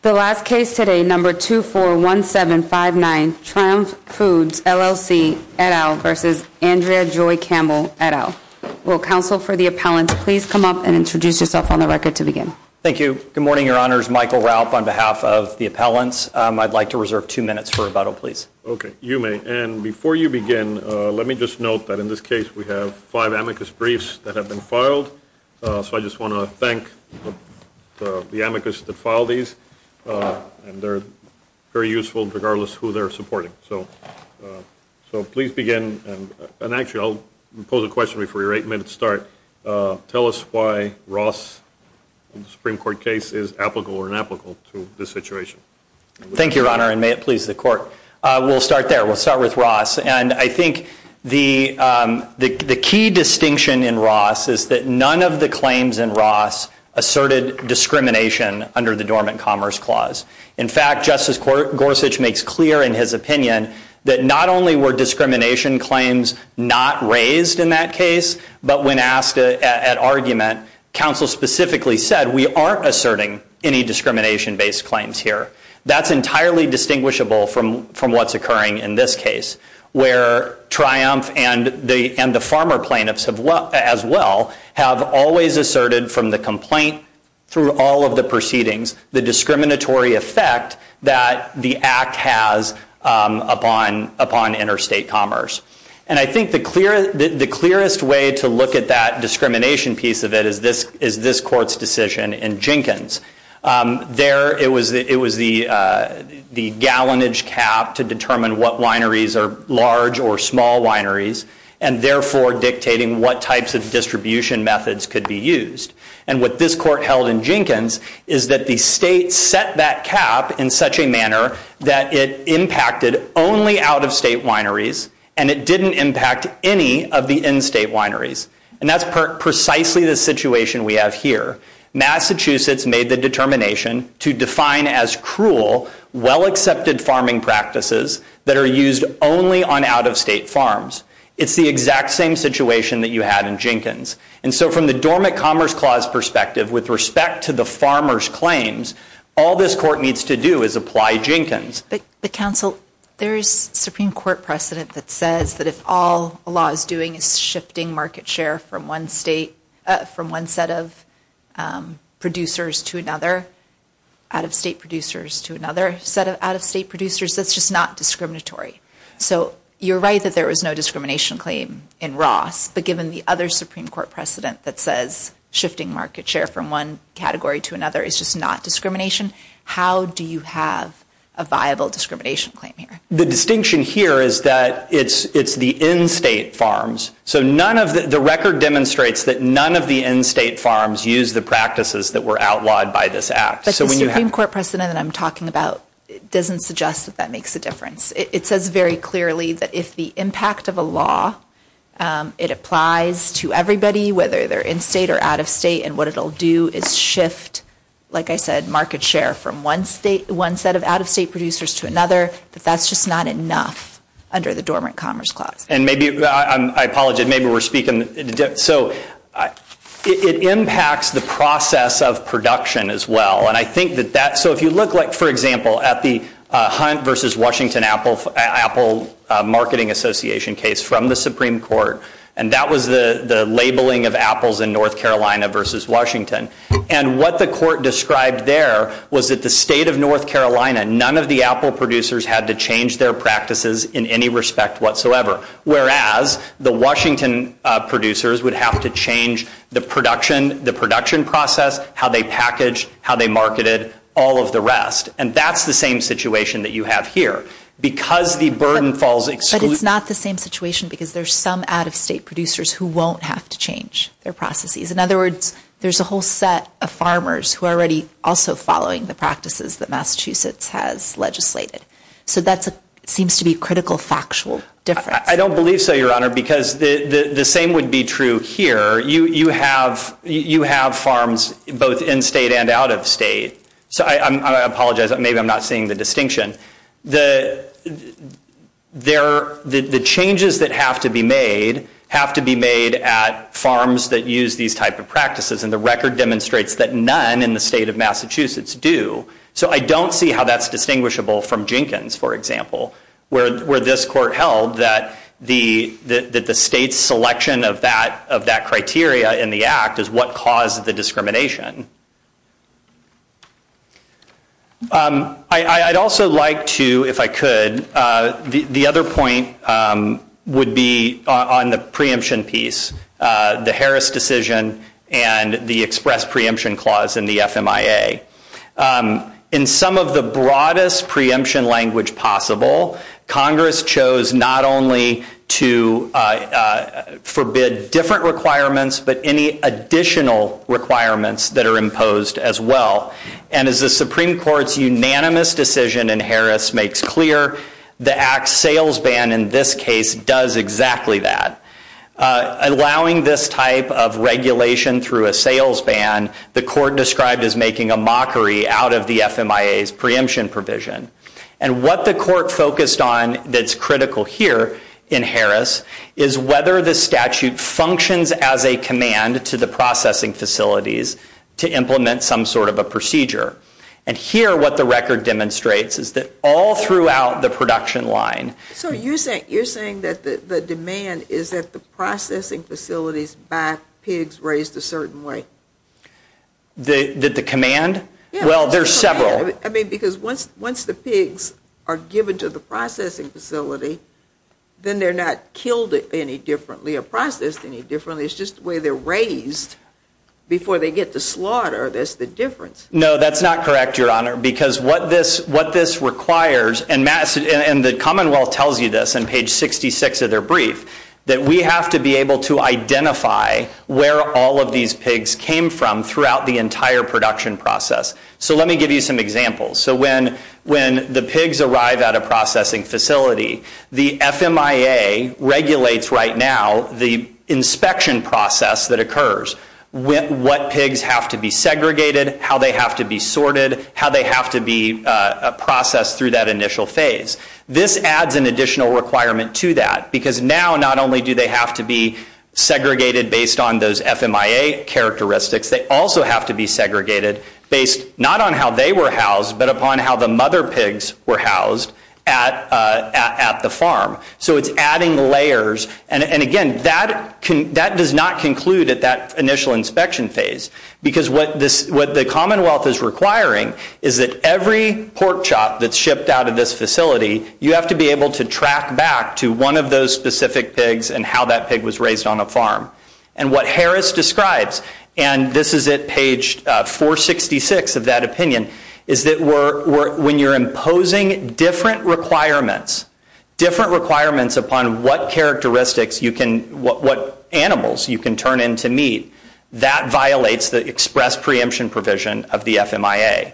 The last case today, number 241759, Triumph Foods, LLC et al. versus Andrea Joy Campbell et al. Will counsel for the appellants please come up and introduce yourself on the record to begin? Thank you. Good morning, your honors. Michael Ralph on behalf of the appellants. I'd like to reserve two minutes for rebuttal, please. Okay, you may. And before you begin, let me just note that in this case we have five amicus briefs that have been filed. So I just want to thank the amicus that filed these. And they're very useful regardless of who they're supporting. So please begin. And actually, I'll pose a question before your eight-minute start. Tell us why Ross in the Supreme Court case is applicable or inapplicable to this situation. Thank you, your honor. And may it please the court. We'll start there. We'll start with Ross. And I think the key distinction in Ross is that none of the claims in Ross asserted discrimination under the Dormant Commerce Clause. In fact, Justice Gorsuch makes clear in his opinion that not only were discrimination claims not raised in that case, but when asked at argument, counsel specifically said, we aren't asserting any discrimination-based claims here. That's entirely distinguishable from what's occurring in this case, where Triumph and the farmer plaintiffs as well have always asserted from the complaint through all of the proceedings the discriminatory effect that the act has upon interstate commerce. And I think the clearest way to look at that discrimination piece of it is this court's decision in Jenkins. There, it was the gallonage cap to determine what wineries are large or small wineries, and therefore dictating what types of distribution methods could be used. And what this court held in Jenkins is that the state set that cap in such a manner that it impacted only out-of-state wineries, and it didn't impact any of the in-state wineries. And that's precisely the situation we have here. Massachusetts made the determination to define as cruel well-accepted farming practices that are used only on out-of-state farms. It's the exact same situation that you had in Jenkins. And so from the Dormant Commerce Clause perspective, with respect to the farmer's claims, all this court needs to do is apply Jenkins. But counsel, there's Supreme Court precedent that says that if all a law is doing is shifting market share from one state, from one set of producers to another, out-of-state producers to another set of out-of-state producers, that's just not discriminatory. So you're right that there was no discrimination claim in Ross, but given the other Supreme Court precedent that says shifting market share from one category to another is just not discrimination, how do you have a viable record? The record demonstrates that none of the in-state farms use the practices that were outlawed by this act. But the Supreme Court precedent that I'm talking about doesn't suggest that that makes a difference. It says very clearly that if the impact of a law, it applies to everybody, whether they're in-state or out-of-state, and what it'll do is shift, like I said, market share from one state, one set of out-of-state producers to another, but that's just not enough under the dormant commerce clause. And maybe, I apologize, maybe we're speaking, so it impacts the process of production as well, and I think that that, so if you look like, for example, at the Hunt versus Washington Apple Marketing Association case from the Supreme Court, and that was the labeling of apples in North Carolina versus Washington, and what the court described there was that the state of North Carolina, none of the apple producers had to their practices in any respect whatsoever, whereas the Washington producers would have to change the production, the production process, how they packaged, how they marketed, all of the rest. And that's the same situation that you have here, because the burden falls. But it's not the same situation because there's some out-of-state producers who won't have to change their processes. In other words, there's a whole set of farmers who are already also following the practices that Massachusetts has legislated. So that seems to be a critical factual difference. I don't believe so, Your Honor, because the same would be true here. You have farms both in-state and out-of-state. So I apologize, maybe I'm not seeing the distinction. The changes that have to be made have to be made at farms that use these type of practices, and the record demonstrates that none in the state of Massachusetts do. So I don't see how that's distinguishable from Jenkins, for example, where this court held that the state's selection of that criteria in the act is what caused the discrimination. I'd also like to, if I could, the other point would be on the preemption piece, the Harris decision and the express preemption clause in the FMIA. In some of the broadest preemption language possible, Congress chose not only to forbid different requirements, but any additional requirements that are imposed as well. And as the Supreme Court's unanimous decision in makes clear, the act's sales ban in this case does exactly that. Allowing this type of regulation through a sales ban, the court described as making a mockery out of the FMIA's preemption provision. And what the court focused on that's critical here in Harris is whether the statute functions as a command to the processing facilities to implement some sort of a procedure. And here, what the record demonstrates is that all throughout the production line. So you're saying that the demand is that the processing facilities buy pigs raised a certain way? Did the command? Well, there's several. I mean, because once the pigs are given to the processing facility, then they're not killed any differently or processed any differently. It's just the way they're raised before they get to slaughter. That's the difference. No, that's not correct, Your Honor, because what this what this requires and mass and the Commonwealth tells you this on page 66 of their brief that we have to be able to identify where all of these pigs came from throughout the entire production process. So let me give you some examples. So when when the pigs arrive at a processing facility, the FMIA regulates right now the inspection process that occurs, what pigs have to be segregated, how they have to be sorted, how they have to be processed through that initial phase. This adds an additional requirement to that because now not only do they have to be segregated based on those FMIA characteristics, they also have to be segregated based not on how they were housed, but upon how the mother pigs were housed at at the farm. So it's adding layers. And again, that can that does not conclude at that initial inspection phase, because what this what the Commonwealth is requiring is that every pork chop that's shipped out of this facility, you have to be able to track back to one of those specific pigs and how that pig was raised on a farm. And what Harris describes, and this is at page 466 of that opinion, is that when you're imposing different requirements, different requirements upon what characteristics you can, what animals you can turn into meat, that violates the express preemption provision of the FMIA.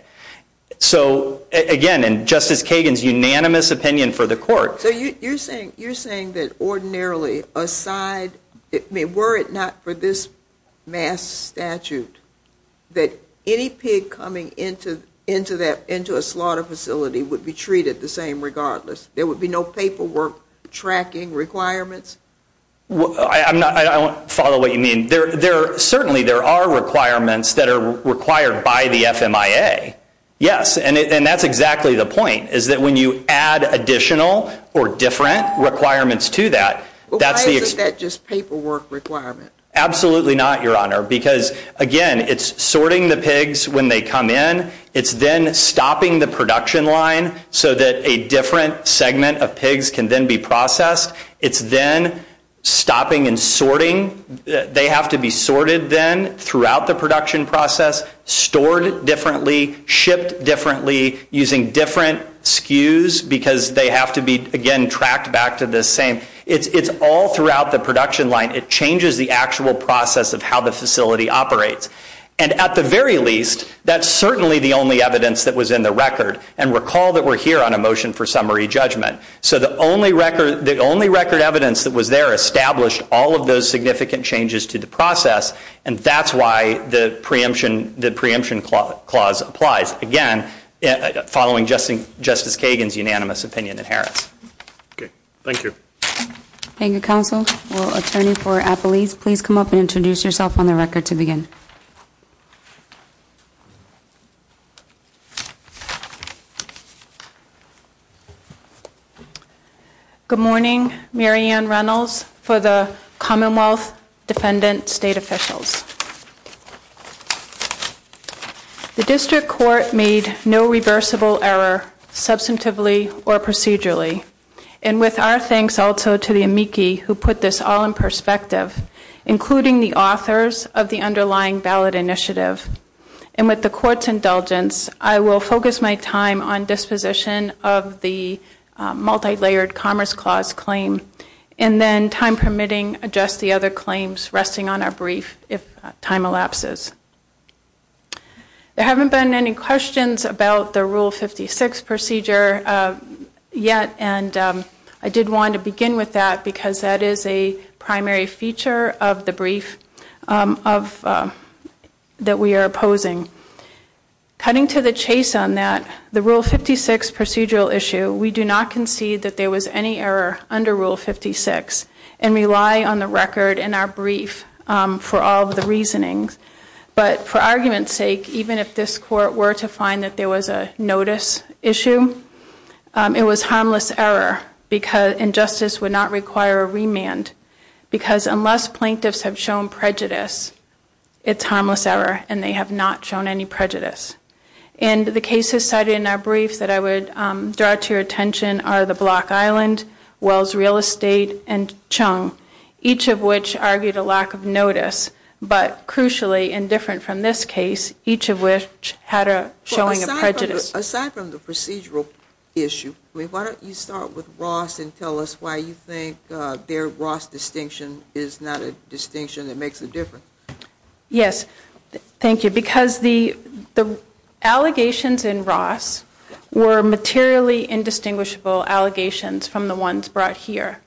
So again, and Justice Kagan's unanimous opinion for the court. So you're saying you're saying that ordinarily aside, I mean were it not for this mass statute that any pig coming into into that into a slaughter facility would be treated the same regardless? There would be no paperwork tracking requirements? I'm not, I don't follow what you mean. There there certainly there are requirements that are required by the FMIA. Yes, and that's exactly the point, is that when you add additional or different requirements to that, that's the paperwork requirement? Absolutely not, Your Honor, because again, it's sorting the pigs when they come in. It's then stopping the production line so that a different segment of pigs can then be processed. It's then stopping and sorting. They have to be sorted then throughout the production process, stored differently, shipped differently, using different SKUs because they have to be again, tracked back to the same. It's all throughout the production line. It changes the actual process of how the facility operates. And at the very least, that's certainly the only evidence that was in the record. And recall that we're here on a motion for summary judgment. So the only record, the only record evidence that was there established all of those significant changes to the process. And that's why the preemption, the preemption clause applies. Again, following Justice Kagan's unanimous opinion in Harris. Okay, thank you. Thank you, counsel. Well, attorney for Appelese, please come up and introduce yourself on the record to begin. Good morning. Mary Ann Reynolds for the Commonwealth Defendant State Officials. The district court made no reversible error substantively or procedurally. And with our thanks also to the amici who put this all in perspective, including the authors of the underlying ballot initiative. And with the court's indulgence, I will focus my time on disposition of the multilayered commerce clause claim. And then time permitting, adjust the other claims resting on our brief if time elapses. There haven't been any questions about the Rule 56 procedure yet. And I did want to begin with that because that is a primary feature of the brief that we are opposing. Cutting to the chase on that, the Rule 56 procedural issue, we do not concede that there was any error under Rule 56 and rely on the record in our brief for all of the reasonings. But for argument's sake, even if this court were to find that there was a notice issue, it was harmless error and justice would not require a remand. Because unless plaintiffs have shown prejudice, it's harmless error and they have not shown any prejudice. And the cases cited in our brief that I would draw to your attention are the Block Island, Wells Real Estate, and Chung, each of which argued a lack of notice. But crucially, and different from this case, each of which had a showing of prejudice. Aside from the procedural issue, why don't you start with Ross and tell us why you think their Ross distinction is not a distinction that makes a difference? Yes, thank you. Because the the allegations in Ross were materially indistinguishable allegations from the ones brought here.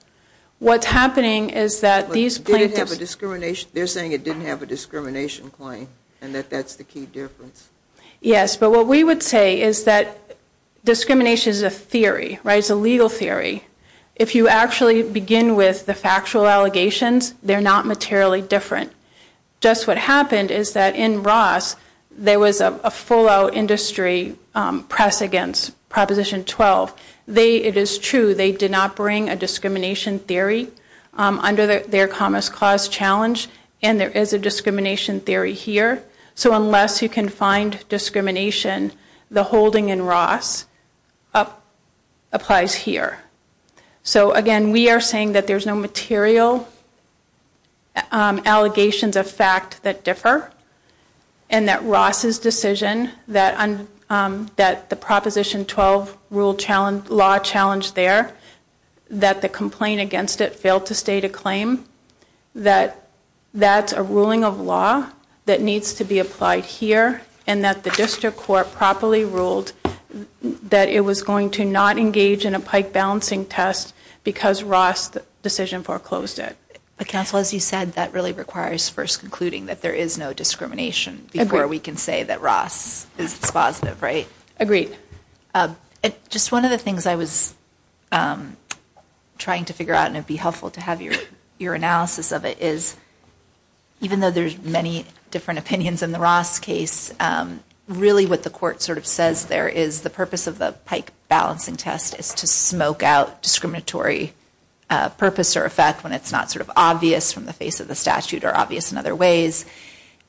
What's happening is that these plaintiffs... Did it have a discrimination? They're saying it didn't have a discrimination claim and that that's the key difference. Yes, but what we would say is that discrimination is a theory, right? It's a legal theory. If you actually begin with the factual allegations, they're not materially different. Just what happened is that in Ross, there was a full-out industry press against Proposition 12. They, it is true, they did not bring a discrimination theory under their Commerce Clause Challenge. And there is a discrimination theory here. So unless you can find discrimination, the holding in Ross applies here. So again, we are saying that there's no material allegations of fact that differ and that Ross's decision that the Proposition 12 rule challenge, law challenge there, that the complaint against it failed to state a claim, that that's a ruling of law that needs to be applied here and that the District Court properly ruled that it was going to not engage in a pike balancing test because Ross decision foreclosed it. But counsel, as you said, that really requires first concluding that there is no discrimination before we can say that Ross is dispositive, right? Agreed. Just one of the things I was trying to figure out, and it'd be helpful to have your analysis of it, is even though there's many different opinions in the Ross case, really what the court sort of says there is the purpose of the pike balancing test is to smoke out discriminatory purpose or effect when it's not sort of obvious from the face of the statute or obvious in other ways.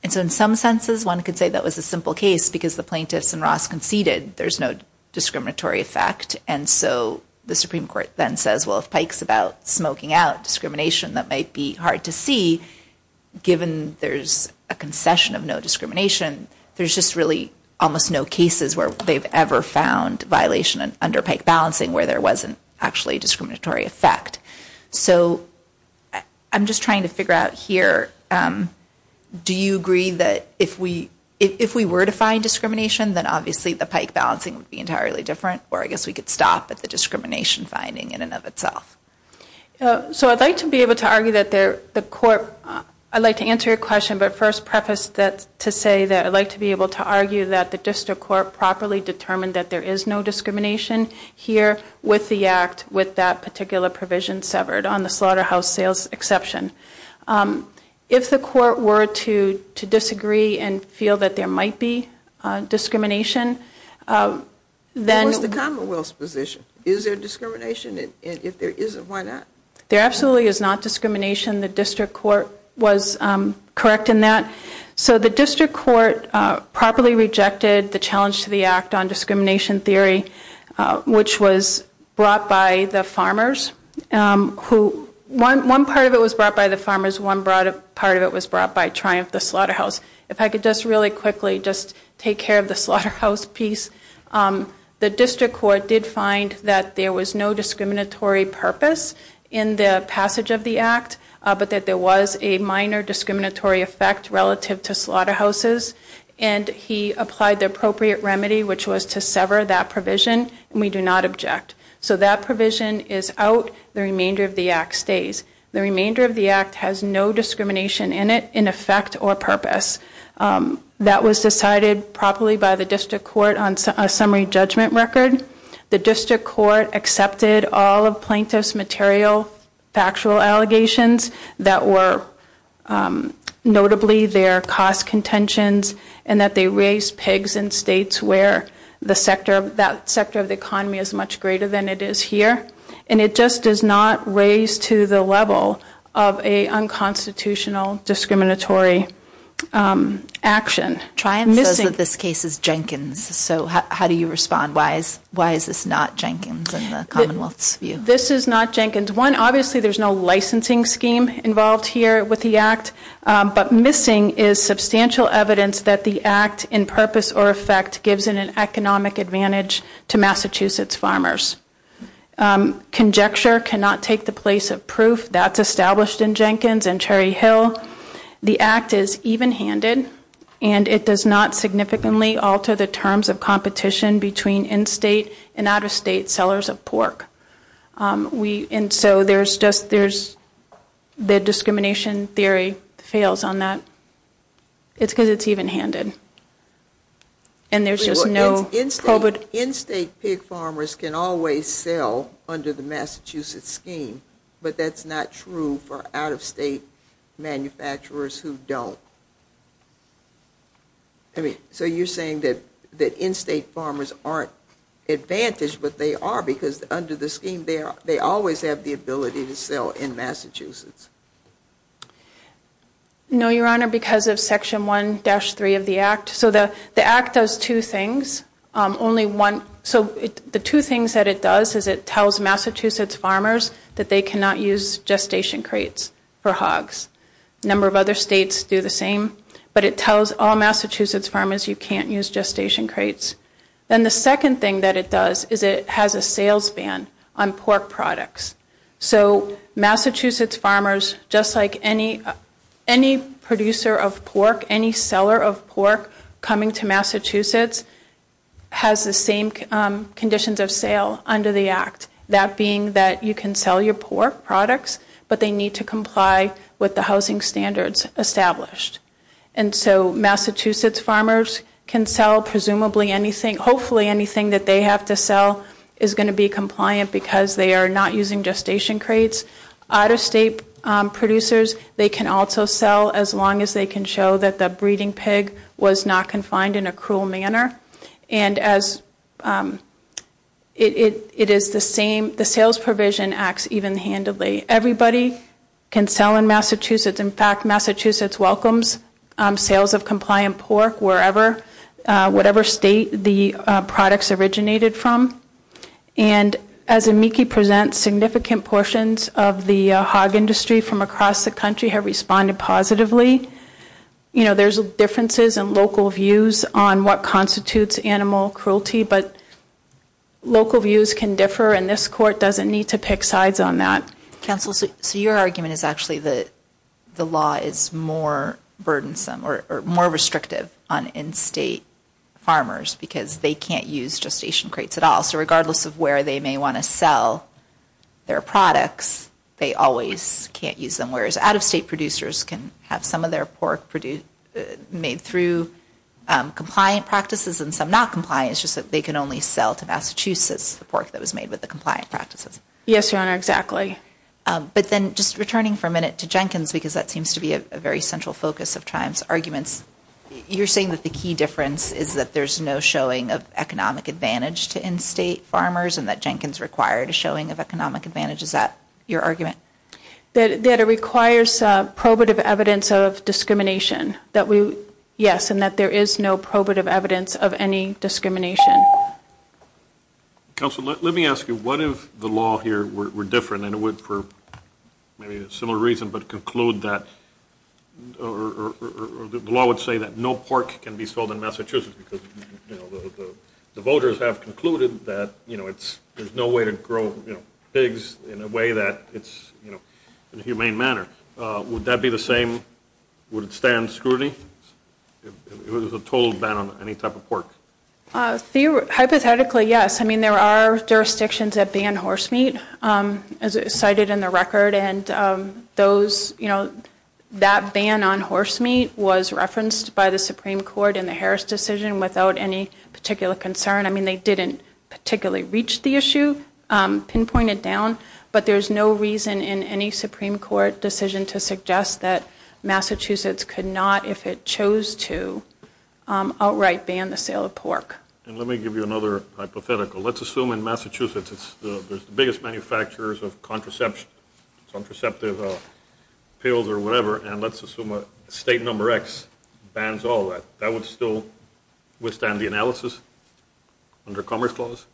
And so in some senses, one could say that was a simple case because the plaintiffs and Ross conceded there's no discriminatory effect. And so the Supreme Court then says, well, if Pike's about smoking out discrimination, that might be hard to see given there's a concession of no discrimination. There's just really almost no cases where they've ever found violation under pike balancing where there wasn't actually a discriminatory effect. So I'm just trying to figure out here, do you agree that if we were to find discrimination, then obviously the pike balancing would be entirely different? Or I guess we could stop at the discrimination finding in and of itself. So I'd like to be able to argue that the court, I'd like to answer your question, but first preface that to say that I'd like to be able to argue that the district court properly determined that there is no discrimination here with the act, with that particular provision severed on the slaughterhouse sales exception. If the court were to disagree and feel that there might be discrimination, then What's the Commonwealth's position? Is there discrimination? If there isn't, why not? There absolutely is not discrimination. The district court was correct in that. So the district court properly rejected the challenge to the act on discrimination theory, which was brought by the farmers. One part of it was brought by the farmers, one part of it was brought by Triumph, the slaughterhouse. If I could just really quickly just take care of the slaughterhouse piece. The district court did find that there was no discriminatory purpose in the passage of the act, but that there was a minor discriminatory effect relative to slaughterhouses, and he applied the appropriate remedy, which was to sever that provision, and we do not object. So that provision is out, the remainder of the act stays. The remainder of the act has no discrimination in it, in effect or purpose. That was decided properly by the district court on a summary judgment record. The district court accepted all of plaintiff's material factual allegations that were notably their cost contentions, and that they raised pegs in states where the sector, that sector of the economy is much greater than it is here, and it just does not raise to the level of a unconstitutional discriminatory action. Triumph says that this case is Jenkins, so how do you respond? Why is this not Jenkins in the Commonwealth's view? This is not Jenkins. One, obviously there's no licensing scheme involved here with the act, but missing is substantial evidence that the act in purpose or effect gives an economic advantage to Massachusetts farmers. Conjecture cannot take the place of proof. That's established in Jenkins and Cherry Hill. The act is even-handed, and it does not significantly alter the terms of competition between in-state and out-of-state sellers of pork. And so there's just, there's, the discrimination theory fails on that. It's because it's even-handed. And there's just no... In-state pig farmers can always sell under the Massachusetts scheme, but that's not true for out-of-state manufacturers who don't. So you're saying that in-state farmers aren't advantaged, but they are because under the scheme, they always have the ability to sell in Massachusetts. No, Your Honor, because of section 1-3 of the act. So the act does two things. Only one, so the two things that it does is it tells Massachusetts farmers that they cannot use gestation crates for hogs. A number of other states do the same, but it tells all Massachusetts farmers you can't use gestation crates. Then the second thing that it does is it has a sales ban on pork products. So Massachusetts farmers, just like any producer of pork, any seller of pork coming to Massachusetts, has the same conditions of sale under the act. That being that you can sell your pork products, but they need to comply with the housing standards established. And so Massachusetts farmers can sell presumably anything, hopefully anything that they have to sell is going to be compliant because they are not using gestation crates. Out-of-state producers, they can also sell as long as they can show that the breeding pig was not confined in a cruel manner. And as it is the same, the sales provision acts even handedly. Everybody can sell in Massachusetts. In fact, Massachusetts welcomes sales of compliant pork wherever, whatever state the products originated from. And as Amiki presents, significant portions of the hog industry from across the country have responded positively. You know, there's differences in local views on what constitutes animal cruelty, but local views can differ and this court doesn't need to pick sides on that. Counsel, so your argument is actually that the law is more burdensome or more restrictive on in-state farmers because they can't use gestation crates at all. So regardless of where they may want to sell their products, they always can't use them. Whereas out-of-state producers can have some of their pork made through compliant practices and some not compliant. It's just that they can only sell to Massachusetts the pork that was made with the compliant practices. Yes, Your Honor, exactly. But then just returning for a minute to Jenkins, because that seems to be a very central focus of Triumph's arguments, you're saying that the key difference is that there's no showing of economic advantage to in-state farmers and that Jenkins required a showing of economic advantage. Is that your argument? That it requires probative evidence of discrimination. Yes, and that there is no probative evidence of any discrimination. Counsel, let me ask you, what if the law here were different and it would, for maybe a similar reason, but conclude that or the law would say that no pork can be sold in Massachusetts because the voters have concluded that there's no way to grow pigs in a way that it's, you know, in a humane manner. Would that be the same? Would it stand scrutiny if it was a total ban on any type of pork? Hypothetically, yes. I mean, there are jurisdictions that ban horse meat, as cited in the record. And those, you know, that ban on horse meat was referenced by the Supreme Court in the Harris decision without any particular concern. I mean, they didn't particularly reach the issue, pinpointed down. But there's no reason in any Supreme Court decision to suggest that Massachusetts could not, if it chose to, outright ban the sale of pork. And let me give you another hypothetical. Let's assume in Massachusetts, it's the biggest manufacturers of contraceptive pills or whatever. And let's assume a state number X bans all that. That would still withstand the analysis under Commerce Clause?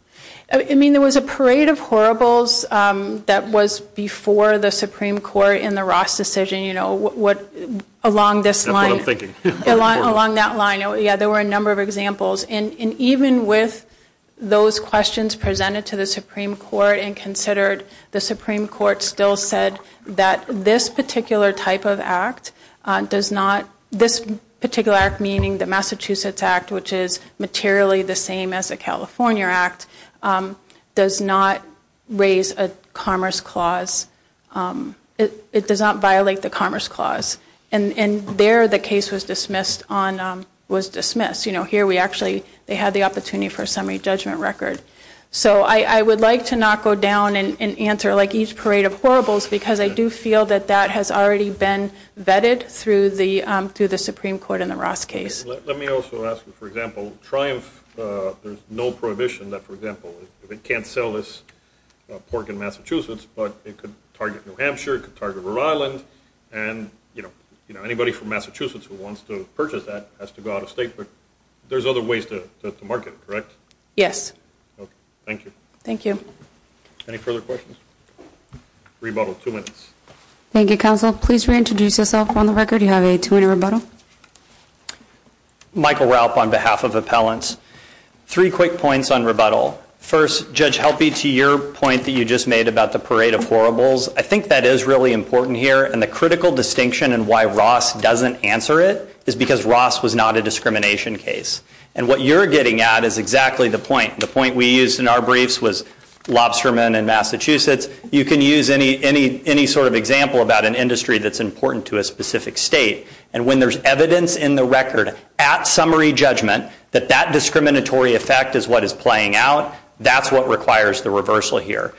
I mean, there was a parade of horribles that was before the Supreme Court in the Ross decision, you know, what, along this line. Along that line. Yeah, there were a number of examples. And even with those questions presented to the Supreme Court and considered, the Supreme Court still said that this particular type of act does not, this particular act, meaning the Massachusetts Act, which is materially the same as a California Act, does not raise a Commerce Clause. It does not violate the Commerce Clause. And there, the case was dismissed on, was dismissed. You know, here we actually, they had the opportunity for a summary judgment record. So I would like to not go down and answer like each parade of horribles, because I do feel that that has already been vetted through the Supreme Court in the Ross case. Let me also ask you, for example, Triumph, there's no prohibition that, for example, if it can't sell this pork in Massachusetts, but it could target New Hampshire, it could target Rhode Island. And, you know, anybody from Massachusetts who wants to purchase that has to go out of state. But there's other ways to market it, correct? Yes. Thank you. Thank you. Any further questions? Rebuttal, two minutes. Thank you, Counsel. Please reintroduce yourself on the record. You have a two-minute rebuttal. Michael Raup on behalf of Appellants. Three quick points on rebuttal. First, Judge Helpe, to your point that you just made about the parade of horribles, I think that is really important here. And the critical distinction in why Ross doesn't answer it is because Ross was not a discrimination case. And what you're getting at is exactly the point. The point we used in our briefs was lobstermen in Massachusetts. You can use any sort of example about an industry that's important to a specific state. And when there's evidence in the record, at summary judgment, that that discriminatory effect is what is playing out, that's what requires the reversal here.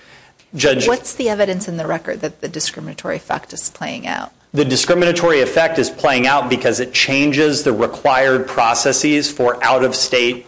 What's the evidence in the record that the discriminatory effect is playing out? The discriminatory effect is playing out because it changes the required processes for out-of-state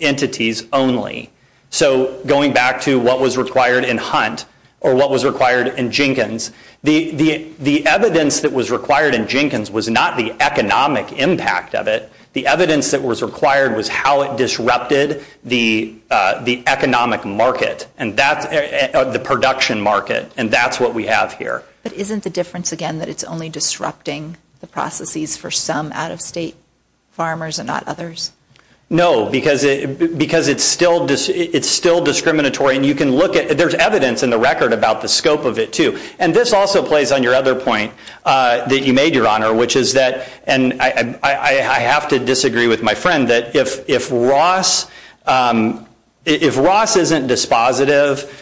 entities only. So going back to what was required in Hunt or what was required in Jenkins, the evidence that was required in Jenkins was not the economic impact of it. The evidence that was required was how it disrupted the economic market and the production market. And that's what we have here. But isn't the difference, again, that it's only disrupting the processes for some out-of-state farmers and not others? No, because it's still discriminatory. And you can look at, there's evidence in the record about the scope of it too. And this also plays on your other point that you made, Your Honor, and I have to disagree with my friend that if Ross isn't dispositive,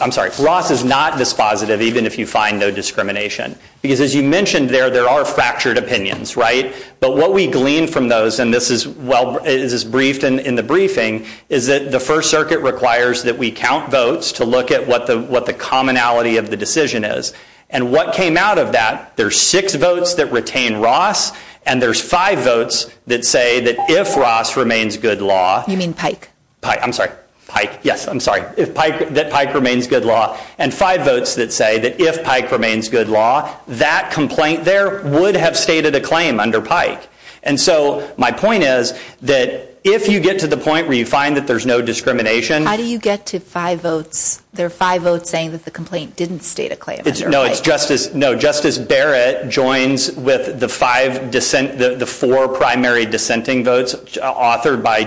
I'm sorry, Ross is not dispositive even if you find no discrimination. Because as you mentioned there, there are fractured opinions, right? But what we glean from those, and this is briefed in the briefing, is that the First Circuit requires that we count votes to look at what the commonality of the decision is. And what came out of that, there's six votes that retain Ross, and there's five votes that say that if Ross remains good law- You mean Pike. Pike, I'm sorry. Pike, yes, I'm sorry. That Pike remains good law, and five votes that say that if Pike remains good law, that complaint there would have stated a claim under Pike. And so my point is that if you get to the point where you find that there's no discrimination- How do you get to five votes? There are five votes saying that the complaint didn't state a claim. No, it's Justice Barrett joins with the four primary dissenting votes authored by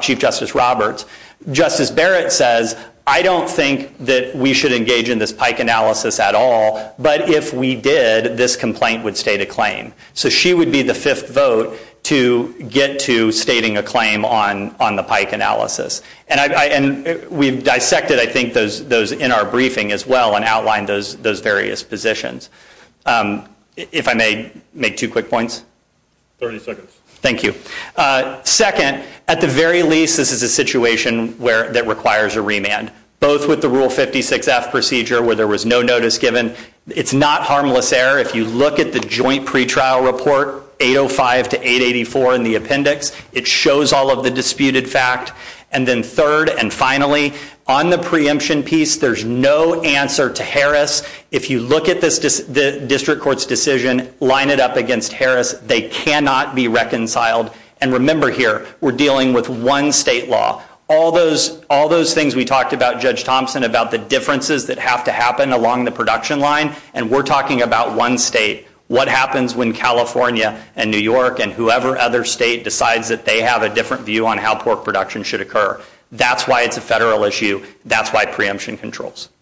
Chief Justice Roberts. Justice Barrett says, I don't think that we should engage in this Pike analysis at all, but if we did, this complaint would state a claim. So she would be the fifth vote to get to stating a claim on the Pike analysis. And we've dissected, I think, those in our briefing as well and outlined those various positions. If I may make two quick points. 30 seconds. Thank you. Second, at the very least, this is a situation that requires a remand, both with the Rule 56F procedure where there was no notice given. It's not harmless error. If you look at the joint pretrial report, 805 to 884 in the appendix, it shows all of the disputed fact. And then third, and finally, on the preemption piece, there's no answer to Harris. If you look at the district court's decision, line it up against Harris. They cannot be reconciled. And remember here, we're dealing with one state law. All those things we talked about, Judge Thompson, about the differences that have to happen along the production line, and we're talking about one state. What happens when California and New York and whoever other state decides that they have a different view on how pork production should occur? That's why it's a federal issue. That's why preemption controls.